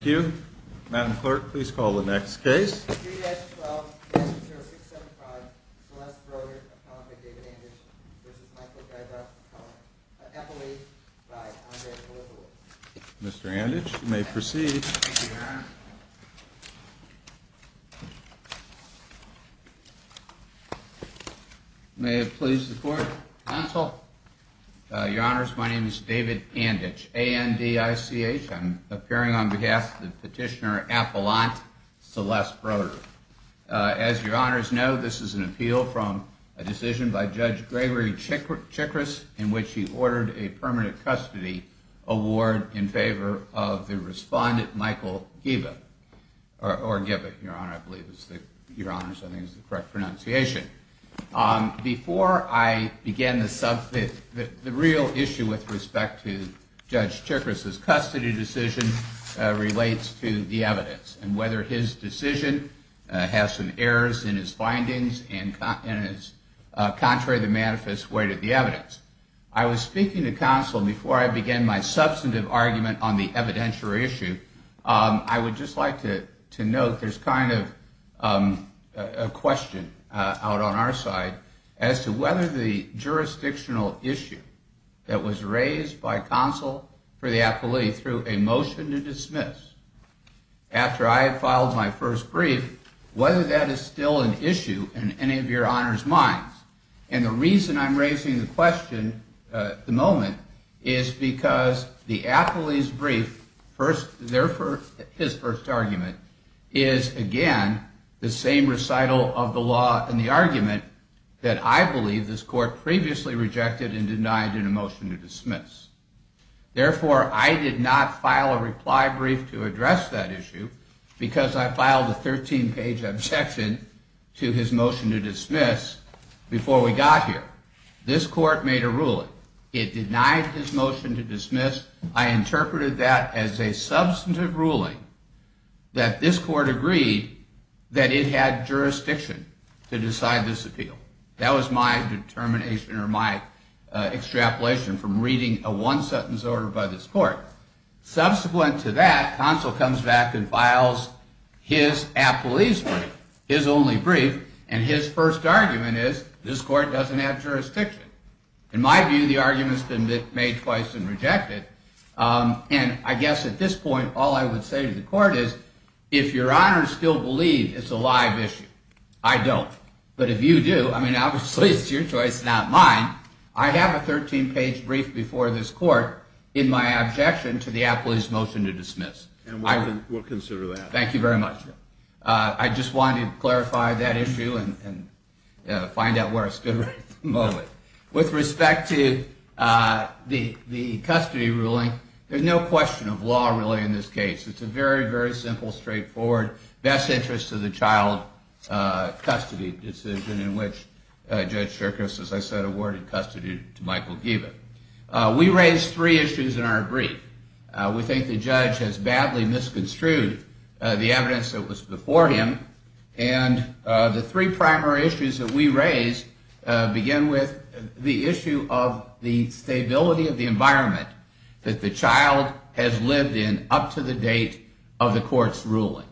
Thank you. Matt McClurk, please call the next case. 3S12-060675, Celeste Broder, appellant by David Anditch, v. Michael Giba, appellate by Andre Berthold. Mr. Anditch, you may proceed. May it please the Court. Counsel. Your Honors, my name is David Anditch, A-N-D-I-C-H. I'm appearing on behalf of the petitioner appellant Celeste Broder. As Your Honors know, this is an appeal from a decision by Judge Gregory Chikris in which he ordered a permanent custody award in favor of the respondent Michael Giba. Or Giba, Your Honors, I believe is the correct pronunciation. Before I begin, the real issue with respect to Judge Chikris' custody decision relates to the evidence and whether his decision has some errors in his findings and is contrary to the manifest weight of the evidence. I was speaking to counsel before I began my substantive argument on the evidentiary issue. I would just like to note there's kind of a question out on our side as to whether the jurisdictional issue that was raised by counsel for the appellee through a motion to dismiss, after I had filed my first brief, whether that is still an issue in any of Your Honors' minds. And the reason I'm raising the question at the moment is because the appellee's brief, his first argument, is again the same recital of the law and the argument that I believe this court previously rejected and denied in a motion to dismiss. Therefore, I did not file a reply brief to address that issue because I filed a 13-page objection to his motion to dismiss before we got here. This court made a ruling. It denied his motion to dismiss. I interpreted that as a substantive ruling that this court agreed that it had jurisdiction to decide this appeal. That was my determination or my extrapolation from reading a one-sentence order by this court. Subsequent to that, counsel comes back and files his appellee's brief, his only brief, and his first argument is this court doesn't have jurisdiction. In my view, the argument's been made twice and rejected. And I guess at this point, all I would say to the court is if Your Honors still believe it's a live issue, I don't. But if you do, I mean, obviously it's your choice, not mine. I have a 13-page brief before this court in my objection to the appellee's motion to dismiss. And we'll consider that. Thank you very much. I just wanted to clarify that issue and find out where I stood right at the moment. With respect to the custody ruling, there's no question of law really in this case. It's a very, very simple, straightforward, best interest of the child custody decision in which Judge Shirkus, as I said, awarded custody to Michael Giebel. We raised three issues in our brief. We think the judge has badly misconstrued the evidence that was before him. And the three primary issues that we raised begin with the issue of the stability of the environment that the child has lived in up to the date of the court's ruling.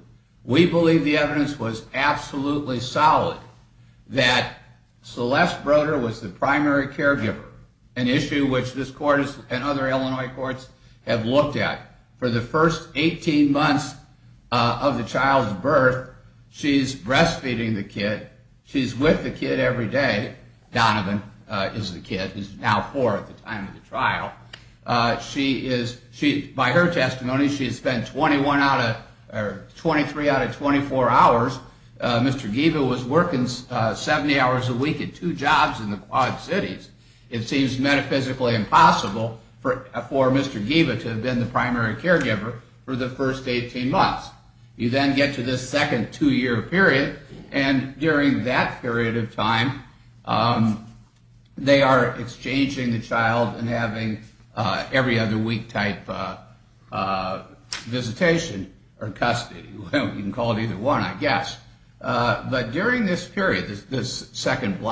We believe the evidence was absolutely solid that Celeste Broder was the primary caregiver, an issue which this court and other Illinois courts have looked at. For the first 18 months of the child's birth, she's breastfeeding the kid. She's with the kid every day. Donovan is the kid, who's now four at the time of the trial. By her testimony, she has spent 23 out of 24 hours. Mr. Giebel was working 70 hours a week at two jobs in the Quad Cities. It seems metaphysically impossible for Mr. Giebel to have been the primary caregiver for the first 18 months. You then get to this second two-year period, and during that period of time, they are exchanging the child and having every other week-type visitation or custody. You can call it either one, I guess. During this period, this second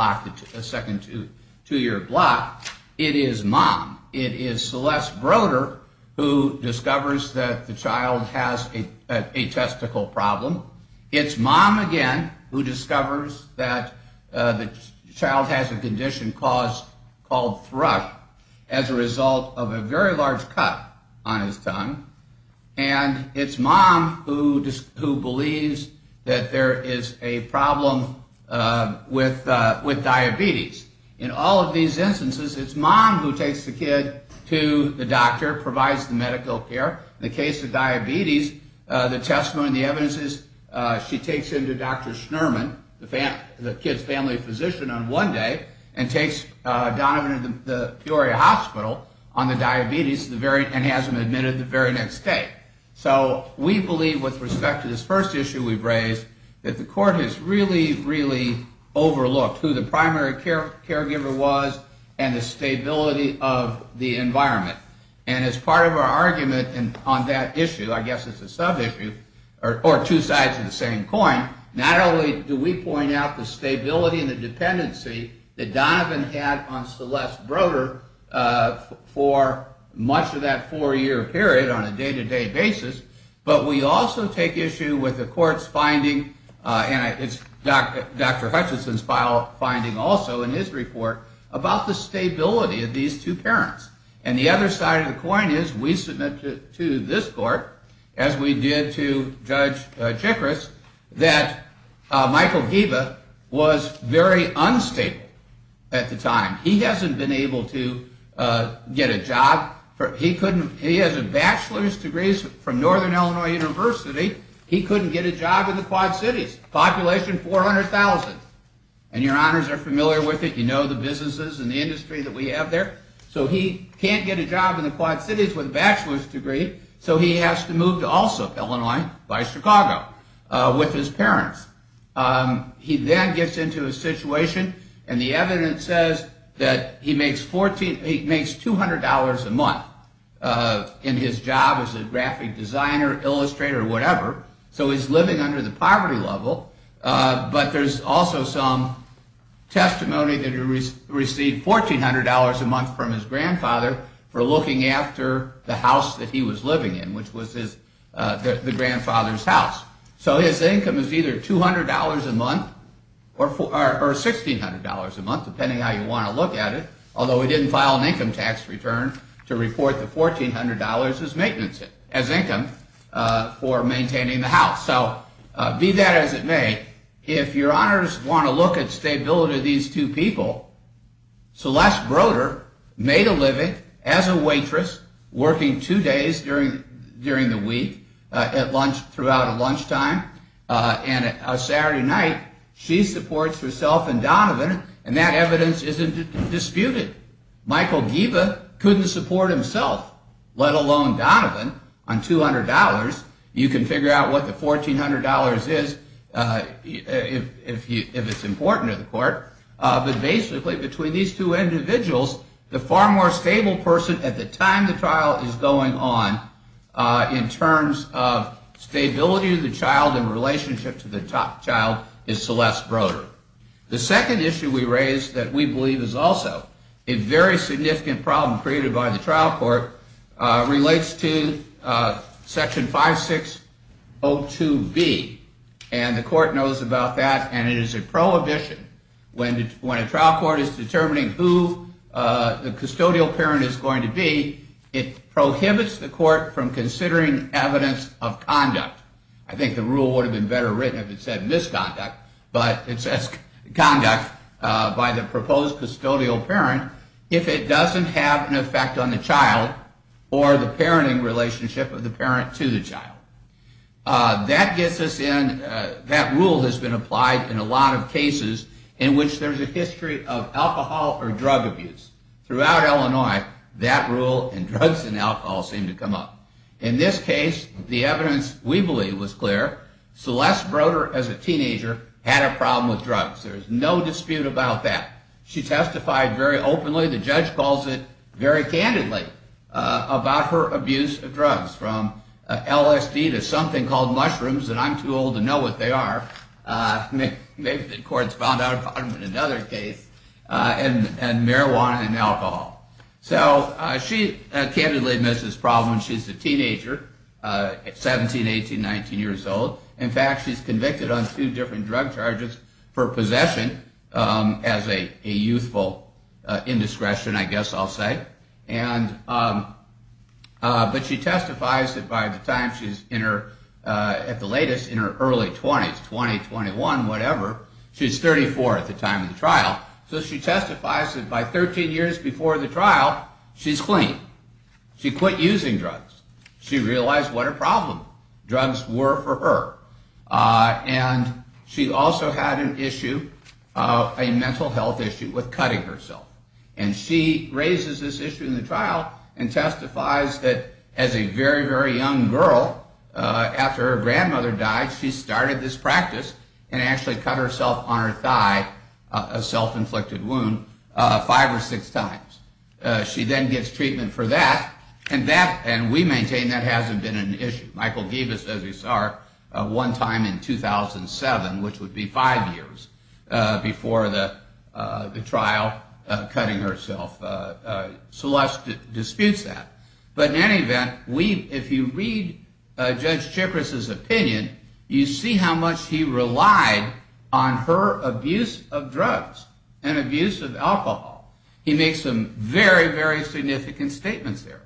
two-year block, it is mom. It is Celeste Broder who discovers that the child has a testicle problem. It's mom, again, who discovers that the child has a condition called thrush as a result of a very large cut on his tongue. It's mom who believes that there is a problem with diabetes. In all of these instances, it's mom who takes the kid to the doctor, provides the medical care. In the case of diabetes, the testimony and the evidence is she takes him to Dr. Schnurman, the kid's family physician, on one day, and takes Donovan to the Peoria Hospital on the diabetes and has him admitted the very next day. We believe, with respect to this first issue we've raised, that the court has really, really overlooked who the primary caregiver was and the stability of the environment. As part of our argument on that issue, I guess it's a sub-issue, or two sides of the same coin, not only do we point out the stability and the dependency that Donovan had on Celeste Broder for much of that four-year period on a day-to-day basis, but we also take issue with the court's finding, and it's Dr. Hutchinson's finding also in his report, about the stability of these two parents. And the other side of the coin is we submit to this court, as we did to Judge Chikris, that Michael Geba was very unstable at the time. He hasn't been able to get a job. He has a bachelor's degree from Northern Illinois University. He couldn't get a job in the Quad Cities, population 400,000. And your honors are familiar with it, you know the businesses and the industry that we have there. So he can't get a job in the Quad Cities with a bachelor's degree, so he has to move to Allsup, Illinois, by Chicago, with his parents. He then gets into a situation, and the evidence says that he makes $200 a month in his job as a graphic designer, illustrator, whatever, so he's living under the poverty level, but there's also some testimony that he received $1,400 a month from his grandfather for looking after the house that he was living in, which was the grandfather's house. So his income is either $200 a month or $1,600 a month, depending on how you want to look at it, although he didn't file an income tax return to report the $1,400 as income for maintaining the house. So be that as it may, if your honors want to look at stability of these two people, Celeste Broder made a living as a waitress, working two days during the week, throughout lunchtime, and on Saturday night, she supports herself and Donovan, and that evidence isn't disputed. Michael Giba couldn't support himself, let alone Donovan, on $200. You can figure out what the $1,400 is if it's important to the court. But basically, between these two individuals, the far more stable person at the time the trial is going on, in terms of stability of the child and relationship to the child, is Celeste Broder. The second issue we raised that we believe is also a very significant problem created by the trial court relates to Section 5602B, and the court knows about that, and it is a prohibition. When a trial court is determining who the custodial parent is going to be, it prohibits the court from considering evidence of conduct. I think the rule would have been better written if it said misconduct, but it says conduct by the proposed custodial parent if it doesn't have an effect on the child or the parenting relationship of the parent to the child. That rule has been applied in a lot of cases in which there's a history of alcohol or drug abuse. Throughout Illinois, that rule in drugs and alcohol seemed to come up. In this case, the evidence we believe was clear. Celeste Broder, as a teenager, had a problem with drugs. There's no dispute about that. She testified very openly, the judge calls it very candidly, about her abuse of drugs, from LSD to something called mushrooms, and I'm too old to know what they are. Maybe the courts found out about them in another case, and marijuana and alcohol. She candidly admits this problem when she's a teenager, 17, 18, 19 years old. In fact, she's convicted on two different drug charges for possession as a youthful indiscretion, I guess I'll say. But she testifies that by the time she's in her, at the latest, in her early 20s, 20, 21, whatever, she's 34 at the time of the trial, so she testifies that by 13 years before the trial, she's clean. She quit using drugs. She realized what a problem drugs were for her. And she also had an issue, a mental health issue, with cutting herself. And she raises this issue in the trial and testifies that as a very, very young girl, after her grandmother died, she started this practice and actually cut herself on her thigh, a self-inflicted wound, five or six times. She then gets treatment for that, and we maintain that hasn't been an issue. Michael gave us, as you saw, one time in 2007, which would be five years before the trial, cutting herself. Celeste disputes that. But in any event, if you read Judge Chikris's opinion, you see how much he relied on her abuse of drugs and abuse of alcohol. He makes some very, very significant statements there.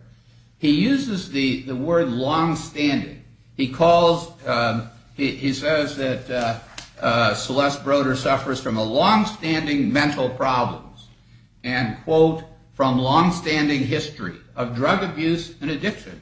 He uses the word longstanding. He calls, he says that Celeste Broder suffers from a longstanding mental problem, and quote, from longstanding history of drug abuse and addiction.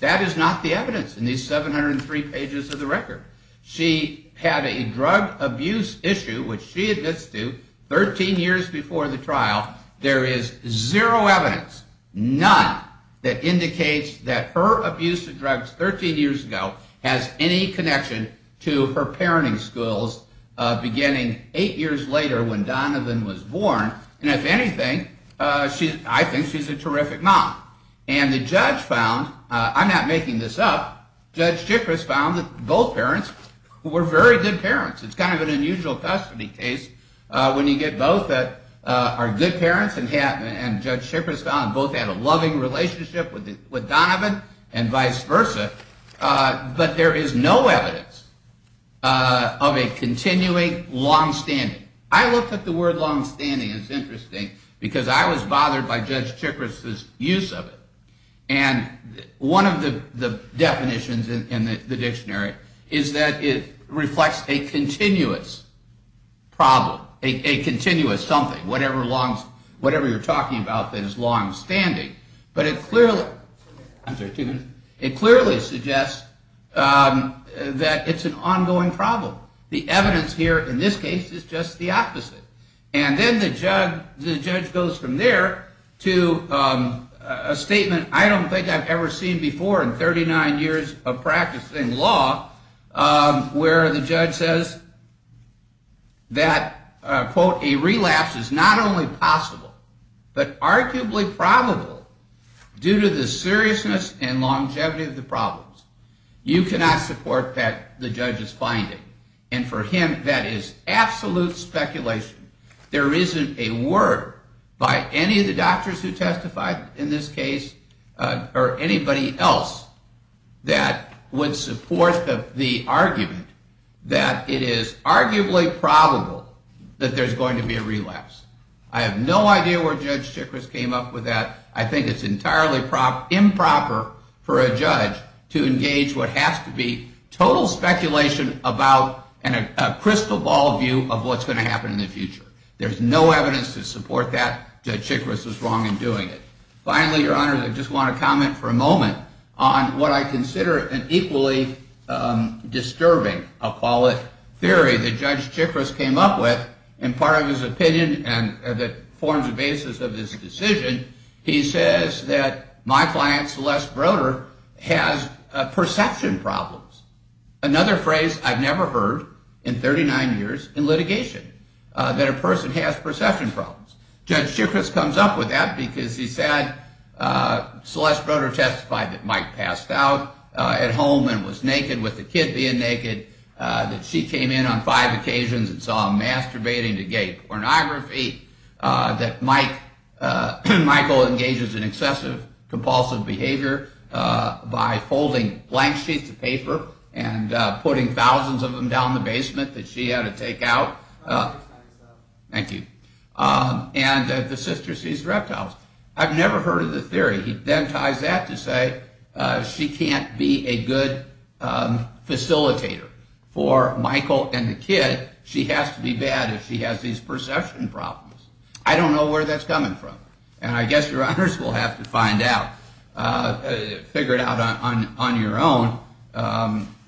That is not the evidence in these 703 pages of the record. She had a drug abuse issue, which she admits to, 13 years before the trial. There is zero evidence, none, that indicates that her abuse of drugs 13 years ago has any connection to her parenting skills, beginning eight years later when Donovan was born. And if anything, I think she's a terrific mom. And the judge found, I'm not making this up, Judge Chikris found that both parents were very good parents. It's kind of an unusual custody case when you get both that are good parents, and Judge Chikris found both had a loving relationship with Donovan, and vice versa. But there is no evidence of a continuing longstanding. I looked up the word longstanding, and it's interesting, because I was bothered by Judge Chikris's use of it. And one of the definitions in the dictionary is that it reflects a continuous problem, a continuous something, whatever you're talking about that is longstanding. But it clearly suggests that it's an ongoing problem. The evidence here in this case is just the opposite. And then the judge goes from there to a statement I don't think I've ever seen before in 39 years of practicing law, where the judge says that, quote, a relapse is not only possible, but arguably probable, due to the seriousness and longevity of the problems. You cannot support that the judge is finding. And for him, that is absolute speculation. There isn't a word by any of the doctors who testified in this case, or anybody else, that would support the argument that it is arguably probable that there's going to be a relapse. I have no idea where Judge Chikris came up with that. I think it's entirely improper for a judge to engage what has to be total speculation about a crystal ball view of what's going to happen in the future. There's no evidence to support that Judge Chikris is wrong in doing it. Finally, Your Honor, I just want to comment for a moment on what I consider an equally disturbing theory that Judge Chikris came up with. In part of his opinion, and that forms the basis of this decision, he says that my client Celeste Broder has perception problems. Another phrase I've never heard in 39 years in litigation, that a person has perception problems. Judge Chikris comes up with that because he said Celeste Broder testified that Mike passed out at home and was naked with the kid being naked. That she came in on five occasions and saw him masturbating to gay pornography. That Michael engages in excessive compulsive behavior by folding blank sheets of paper and putting thousands of them down the basement that she had to take out. Thank you. And that the sister sees reptiles. I've never heard of the theory. He then ties that to say she can't be a good facilitator for Michael and the kid. She has to be bad if she has these perception problems. I don't know where that's coming from. And I guess Your Honors will have to find out, figure it out on your own.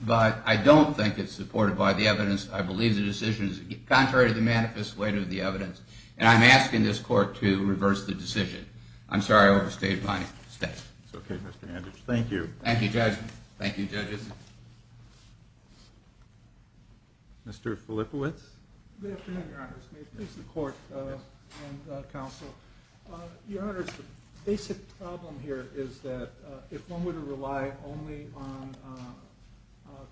But I don't think it's supported by the evidence. I believe the decision is contrary to the manifest weight of the evidence. And I'm asking this court to reverse the decision. I'm sorry I overstayed my step. It's okay, Mr. Anditch. Thank you. Thank you, Judge. Thank you, judges. Mr. Filippowitz. Good afternoon, Your Honors. May it please the court and counsel. Your Honors, the basic problem here is that if one were to rely only on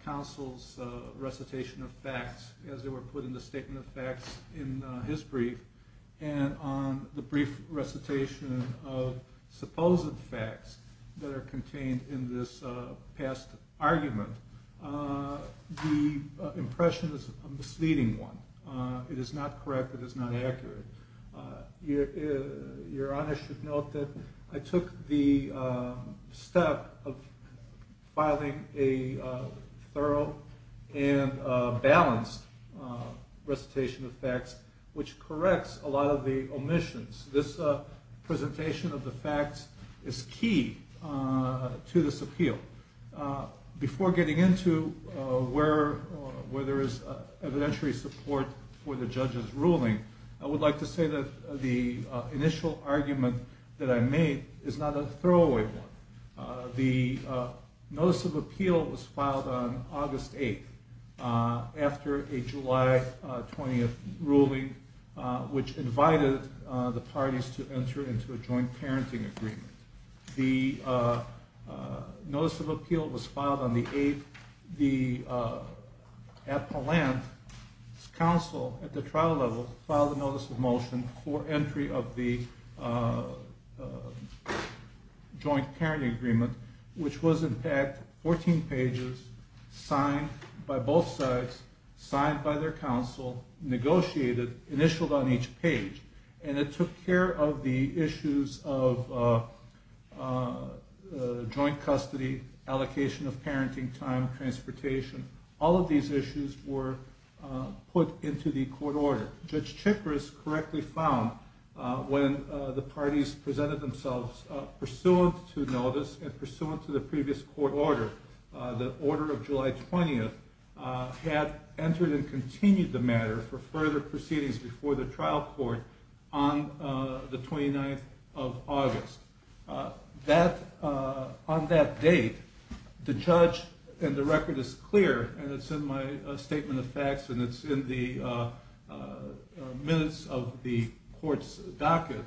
counsel's recitation of facts as they were put in the statement of facts in his brief, and on the brief recitation of supposed facts that are contained in this past argument, the impression is a misleading one. It is not correct. It is not accurate. Your Honors should note that I took the step of filing a thorough and balanced recitation of facts, which corrects a lot of the omissions. This presentation of the facts is key to this appeal. Before getting into where there is evidentiary support for the judge's ruling, I would like to say that the initial argument that I made is not a throwaway one. The notice of appeal was filed on August 8th after a July 20th ruling, which invited the parties to enter into a joint parenting agreement. The notice of appeal was filed on the 8th. At the trial level, the counsel filed a notice of motion for entry of the joint parenting agreement, which was in fact 14 pages, signed by both sides, signed by their counsel, negotiated, and initialed on each page. It took care of the issues of joint custody, allocation of parenting time, transportation. All of these issues were put into the court order. Judge Chikris correctly found when the parties presented themselves pursuant to notice and pursuant to the previous court order, the order of July 20th, had entered and continued the matter for further proceedings before the trial court on the 29th of August. On that date, the judge, and the record is clear, and it's in my statement of facts, and it's in the minutes of the court's docket,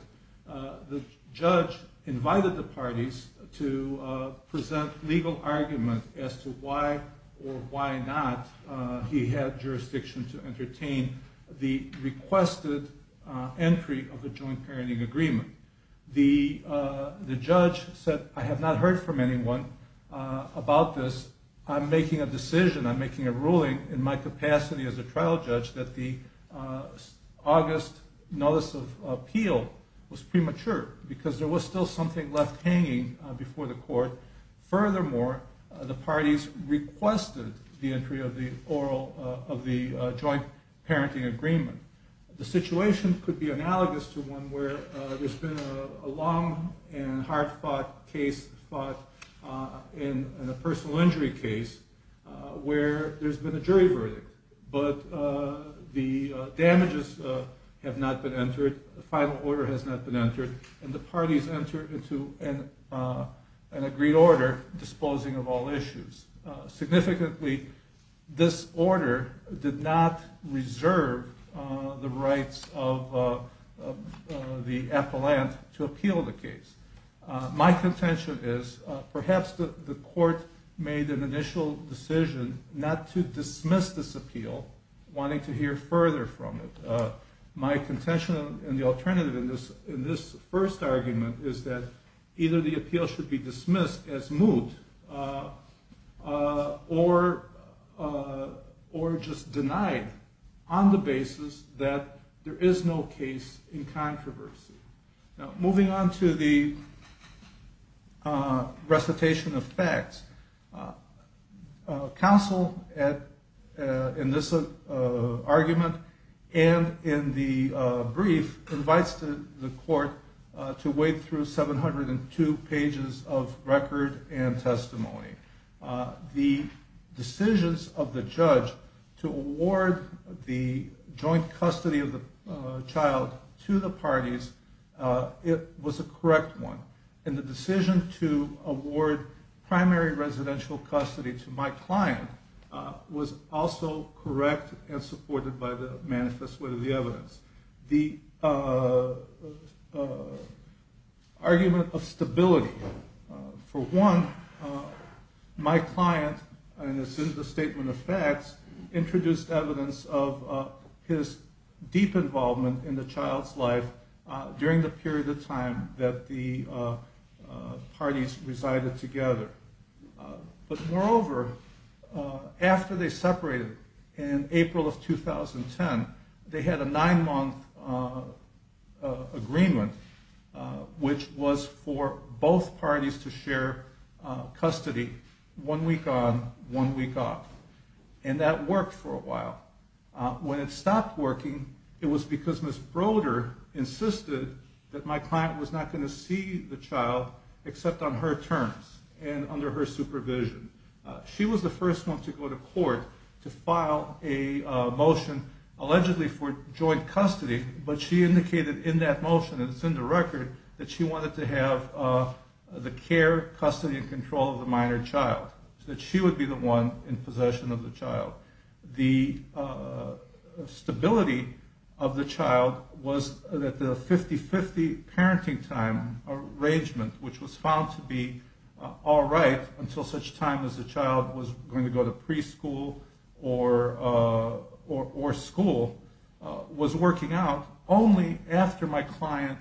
the judge invited the parties to present legal argument as to why or why not he had jurisdiction to entertain the requested entry of the joint parenting agreement. The judge said, I have not heard from anyone about this. I'm making a decision, I'm making a ruling in my capacity as a trial judge that the August notice of appeal was premature because there was still something left hanging before the court. Furthermore, the parties requested the entry of the joint parenting agreement. The situation could be analogous to one where there's been a long and hard-fought case, fought in a personal injury case, where there's been a jury verdict. But the damages have not been entered, the final order has not been entered, and the parties entered into an agreed order disposing of all issues. Significantly, this order did not reserve the rights of the appellant to appeal the case. My contention is, perhaps the court made an initial decision not to dismiss this appeal, wanting to hear further from it. My contention and the alternative in this first argument is that either the appeal should be dismissed as moved or just denied on the basis that there is no case in controversy. Now, moving on to the recitation of facts. Counsel, in this argument and in the brief, invites the court to wade through 702 pages of record and testimony. The decisions of the judge to award the joint custody of the child to the parties, it was a correct one. And the decision to award primary residential custody to my client was also correct and supported by the manifest way of the evidence. The argument of stability. For one, my client, in the statement of facts, introduced evidence of his deep involvement in the child's life during the period of time that the parties resided together. But moreover, after they separated in April of 2010, they had a nine-month agreement, which was for both parties to share custody one week on, one week off. And that worked for a while. When it stopped working, it was because Ms. Broder insisted that my client was not going to see the child except on her terms and under her supervision. She was the first one to go to court to file a motion, allegedly for joint custody, but she indicated in that motion, and it's in the record, that she wanted to have the care, custody, and control of the minor child, so that she would be the one in possession of the child. The stability of the child was that the 50-50 parenting time arrangement, which was found to be all right until such time as the child was going to go to preschool or school, was working out only after my client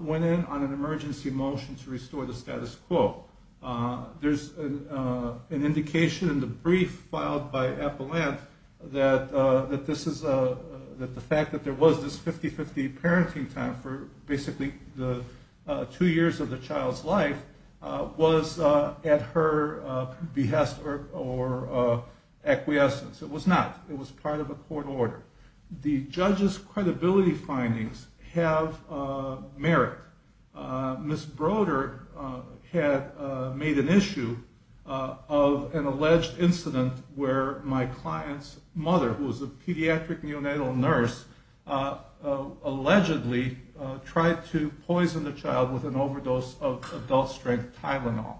went in on an emergency motion to restore the status quo. There's an indication in the brief filed by Epelant that the fact that there was this 50-50 parenting time for basically the two years of the child's life was at her behest or acquiescence. It was not. It was part of a court order. The judge's credibility findings have merit. Ms. Broder had made an issue of an alleged incident where my client's mother, who was a pediatric neonatal nurse, allegedly tried to poison the child with an overdose of adult-strength Tylenol.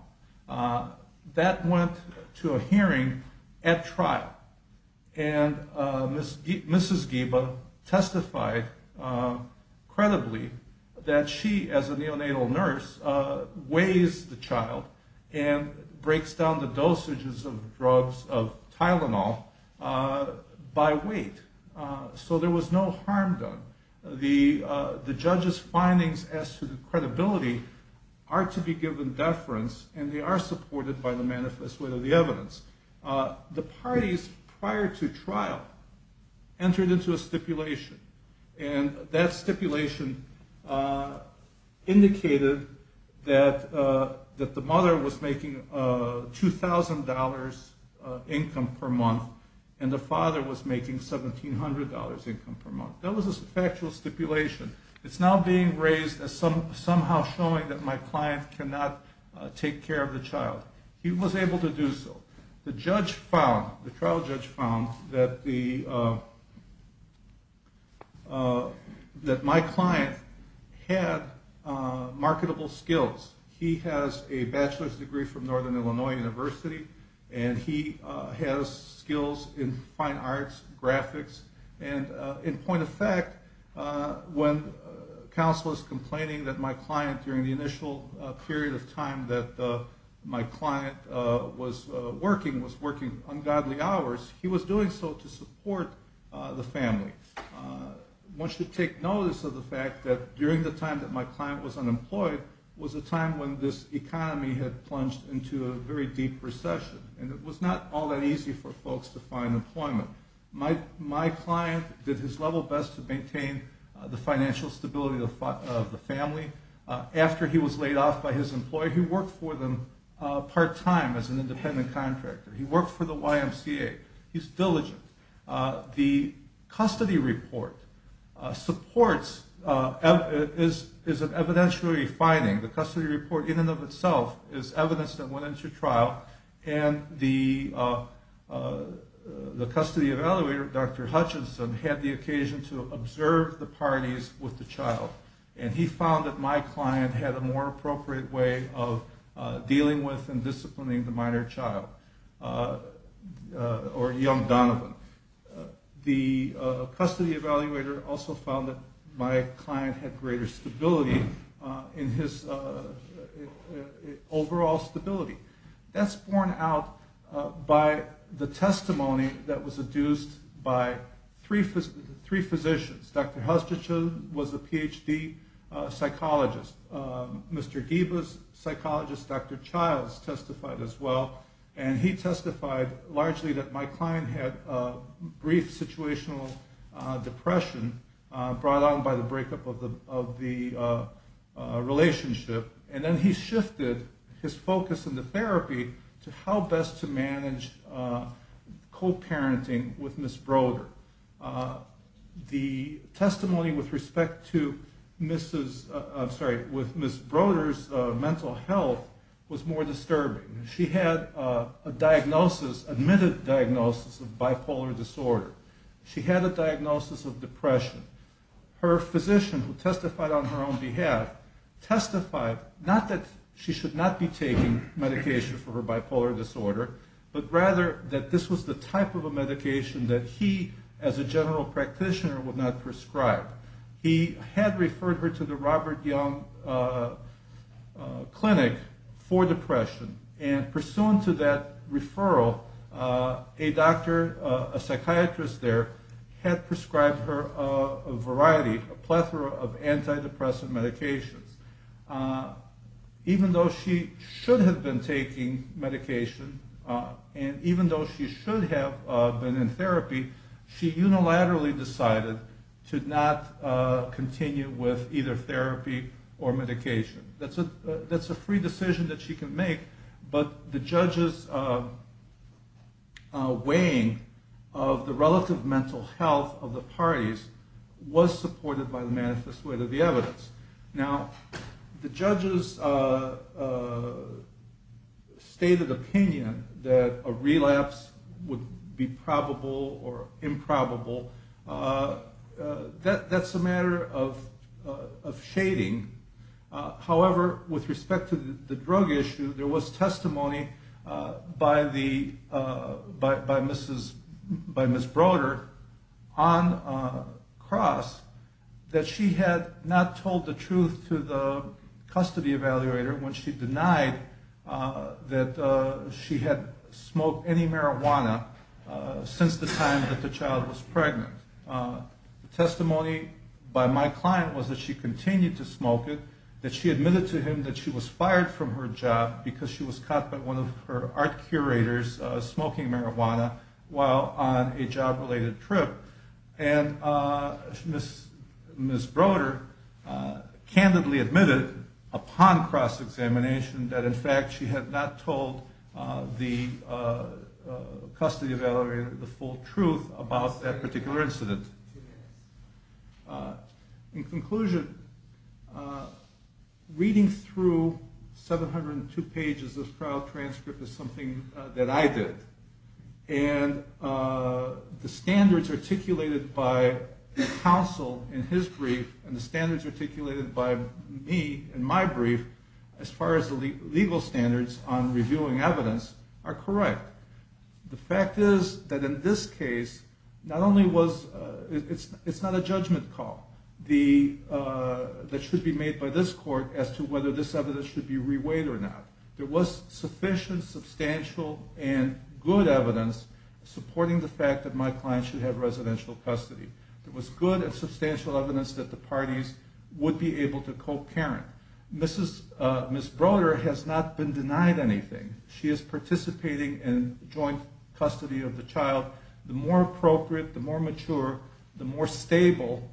That went to a hearing at trial, and Mrs. Geba testified credibly that she, as a neonatal nurse, weighs the child and breaks down the dosages of drugs of Tylenol by weight, so there was no harm done. The judge's findings as to the credibility are to be given deference, and they are supported by the manifesto of the evidence. The parties prior to trial entered into a stipulation, and that stipulation indicated that the mother was making $2,000 income per month and the father was making $1,700 income per month. That was a factual stipulation. It's now being raised as somehow showing that my client cannot take care of the child. He was able to do so. The trial judge found that my client had marketable skills. He has a bachelor's degree from Northern Illinois University, and he has skills in fine arts, graphics. In point of fact, when counsel is complaining that my client, during the initial period of time that my client was working, was working ungodly hours, he was doing so to support the family. One should take notice of the fact that during the time that my client was unemployed was a time when this economy had plunged into a very deep recession, and it was not all that easy for folks to find employment. My client did his level best to maintain the financial stability of the family. After he was laid off by his employer, he worked for them part-time as an independent contractor. He worked for the YMCA. He's diligent. The custody report is an evidentiary finding. The custody report in and of itself is evidence that went into trial, and the custody evaluator, Dr. Hutchinson, had the occasion to observe the parties with the child, and he found that my client had a more appropriate way of dealing with and disciplining the minor child or young Donovan. The custody evaluator also found that my client had greater stability in his overall stability. That's borne out by the testimony that was adduced by three physicians. Dr. Hutchinson was a Ph.D. psychologist. Mr. Giba's psychologist, Dr. Childs, testified as well, and he testified largely that my client had a brief situational depression brought on by the breakup of the relationship, and then he shifted his focus in the therapy to how best to manage co-parenting with Ms. Broder. The testimony with respect to Ms. Broder's mental health was more disturbing. She had a diagnosis, admitted diagnosis, of bipolar disorder. She had a diagnosis of depression. Her physician, who testified on her own behalf, testified not that she should not be taking medication for her bipolar disorder, but rather that this was the type of a medication that he, as a general practitioner, would not prescribe. He had referred her to the Robert Young Clinic for depression, and pursuant to that referral, a doctor, a psychiatrist there, had prescribed her a variety, a plethora of antidepressant medications. Even though she should have been taking medication, and even though she should have been in therapy, she unilaterally decided to not continue with either therapy or medication. That's a free decision that she can make, but the judge's weighing of the relative mental health of the parties was supported by the manifest way of the evidence. Now, the judge's stated opinion that a relapse would be probable or improbable, that's a matter of shading. However, with respect to the drug issue, there was testimony by Ms. Broder on cross that she had not told the truth to the custody evaluator when she denied that she had smoked any marijuana since the time that the child was pregnant. The testimony by my client was that she continued to smoke it, that she admitted to him that she was fired from her job because she was caught by one of her art curators smoking marijuana while on a job-related trip. And Ms. Broder candidly admitted upon cross-examination that in fact she had not told the custody evaluator the full truth about that particular incident. In conclusion, reading through 702 pages of trial transcript is something that I did. And the standards articulated by counsel in his brief and the standards articulated by me in my brief as far as the legal standards on reviewing evidence are correct. The fact is that in this case, it's not a judgment call that should be made by this court as to whether this evidence should be reweighed or not. There was sufficient, substantial, and good evidence supporting the fact that my client should have residential custody. There was good and substantial evidence that the parties would be able to co-parent. Ms. Broder has not been denied anything. She is participating in joint custody of the child. The more appropriate, the more mature, the more stable,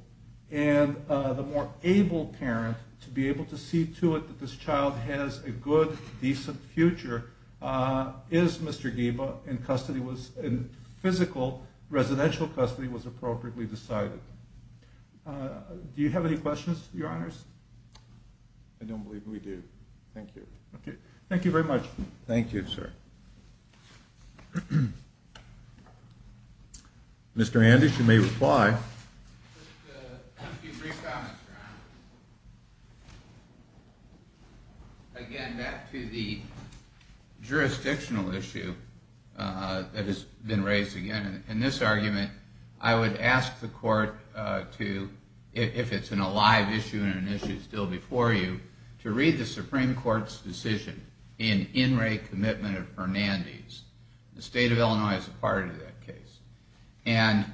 and the more able parent to be able to see to it that this child has a good, decent future is Mr. Giba and physical residential custody was appropriately decided. Do you have any questions, Your Honors? I don't believe we do. Thank you. Okay. Thank you very much. Thank you, sir. Mr. Andes, you may reply. Just a few brief comments, Your Honors. Again, back to the jurisdictional issue that has been raised again. In this argument, I would ask the court to, if it's a live issue and an issue still before you, to read the Supreme Court's decision in In Re Commitment of Hernandez. The state of Illinois is a part of that case. And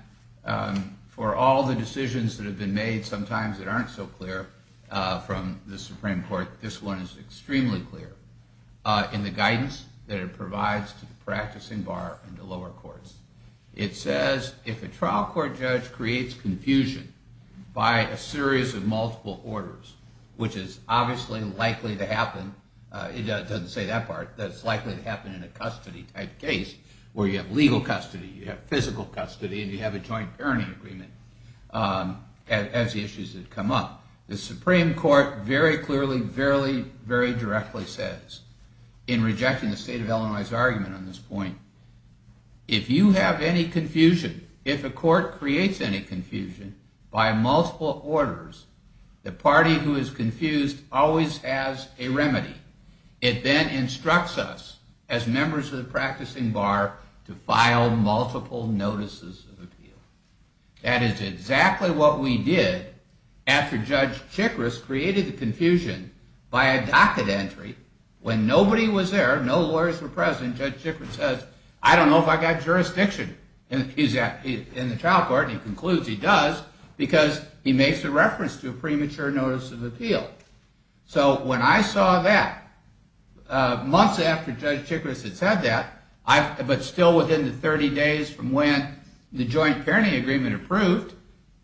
for all the decisions that have been made, sometimes that aren't so clear from the Supreme Court, this one is extremely clear in the guidance that it provides to the practicing bar and the lower courts. It says, if a trial court judge creates confusion by a series of multiple orders, which is obviously likely to happen, it doesn't say that part, that it's likely to happen in a custody type case, where you have legal custody, you have physical custody, and you have a joint parenting agreement, as the issues that come up. The Supreme Court very clearly, very directly says, in rejecting the state of Illinois' argument on this point, if you have any confusion, if a court creates any confusion by multiple orders, the party who is confused always has a remedy. It then instructs us, as members of the practicing bar, to file multiple notices of appeal. That is exactly what we did after Judge Chikris created the confusion by a docket entry, when nobody was there, no lawyers were present, Judge Chikris says, I don't know if I've got jurisdiction in the trial court, he concludes he does, because he makes a reference to a premature notice of appeal. So when I saw that, months after Judge Chikris had said that, but still within the 30 days from when the joint parenting agreement approved,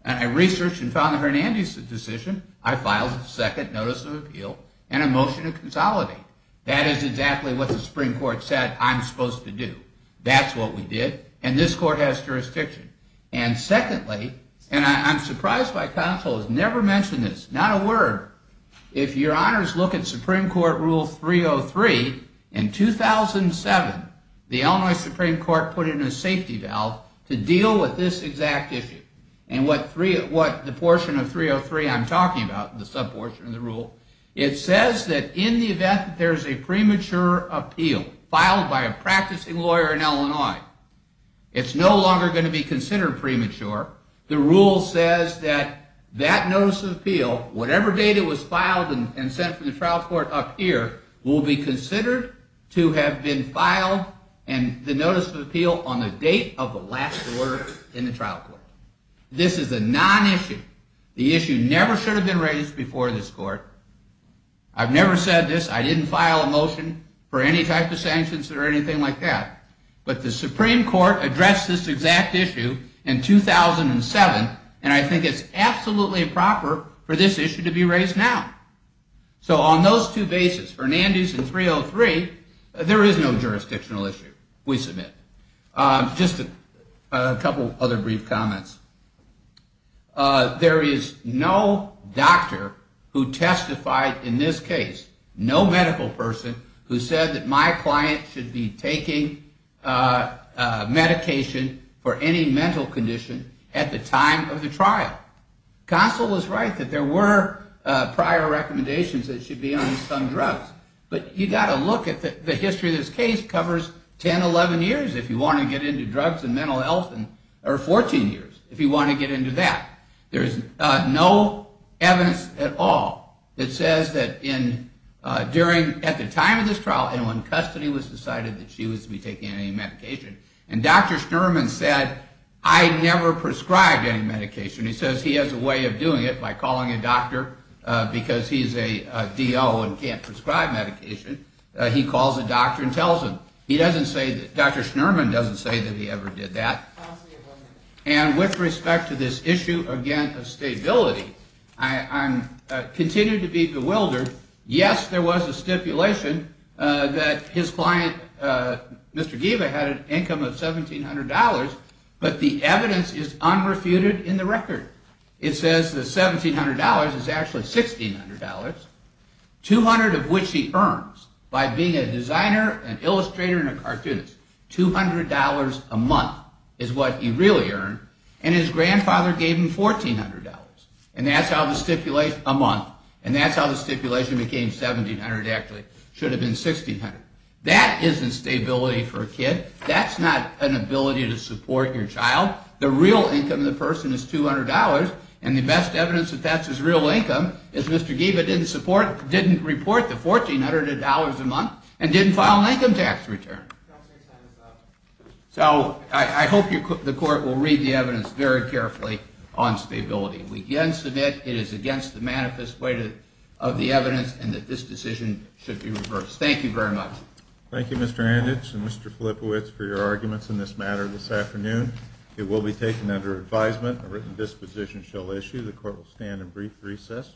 and I researched and found the Hernandez decision, I filed a second notice of appeal and a motion to consolidate. That is exactly what the Supreme Court said I'm supposed to do. That's what we did, and this court has jurisdiction. And secondly, and I'm surprised my counsel has never mentioned this, not a word, if your honors look at Supreme Court Rule 303, in 2007, the Illinois Supreme Court put in a safety valve to deal with this exact issue. And what the portion of 303 I'm talking about, the sub-portion of the rule, it says that in the event that there is a premature appeal, filed by a practicing lawyer in Illinois, it's no longer going to be considered premature. The rule says that that notice of appeal, whatever date it was filed and sent from the trial court up here, will be considered to have been filed, and the notice of appeal on the date of the last order in the trial court. This is a non-issue. The issue never should have been raised before this court. I've never said this. I didn't file a motion for any type of sanctions or anything like that. But the Supreme Court addressed this exact issue in 2007, and I think it's absolutely proper for this issue to be raised now. So on those two bases, Hernandez and 303, there is no jurisdictional issue, we submit. Just a couple other brief comments. There is no doctor who testified in this case, no medical person who said that my client should be taking medication for any mental condition at the time of the trial. Consul was right that there were prior recommendations that it should be on some drugs. But you've got to look at the history of this case, it covers 10, 11 years if you want to get into drugs and mental health, or 14 years if you want to get into that. There is no evidence at all that says that at the time of this trial, and when custody was decided that she was to be taking any medication, and Dr. Schnurman said, I never prescribed any medication. He says he has a way of doing it by calling a doctor, because he's a DO and can't prescribe medication. He calls a doctor and tells him. Dr. Schnurman doesn't say that he ever did that. And with respect to this issue, again, of stability, I continue to be bewildered. Yes, there was a stipulation that his client, Mr. Giba, had an income of $1,700, but the evidence is unrefuted in the record. It says that $1,700 is actually $1,600, $200 of which he earns by being a designer, an illustrator, and a cartoonist. $200 a month is what he really earned, and his grandfather gave him $1,400. And that's how the stipulation became $1,700 actually. It should have been $1,600. That isn't stability for a kid. That's not an ability to support your child. The real income of the person is $200, and the best evidence that that's his real income is Mr. Giba didn't report the $1,400 a month and didn't file an income tax return. So I hope the court will read the evidence very carefully on stability. We can submit it is against the manifest way of the evidence and that this decision should be reversed. Thank you very much. Thank you, Mr. Anditch and Mr. Filipowicz, for your arguments in this matter this afternoon. It will be taken under advisement. A written disposition shall issue. The court will stand in brief recess.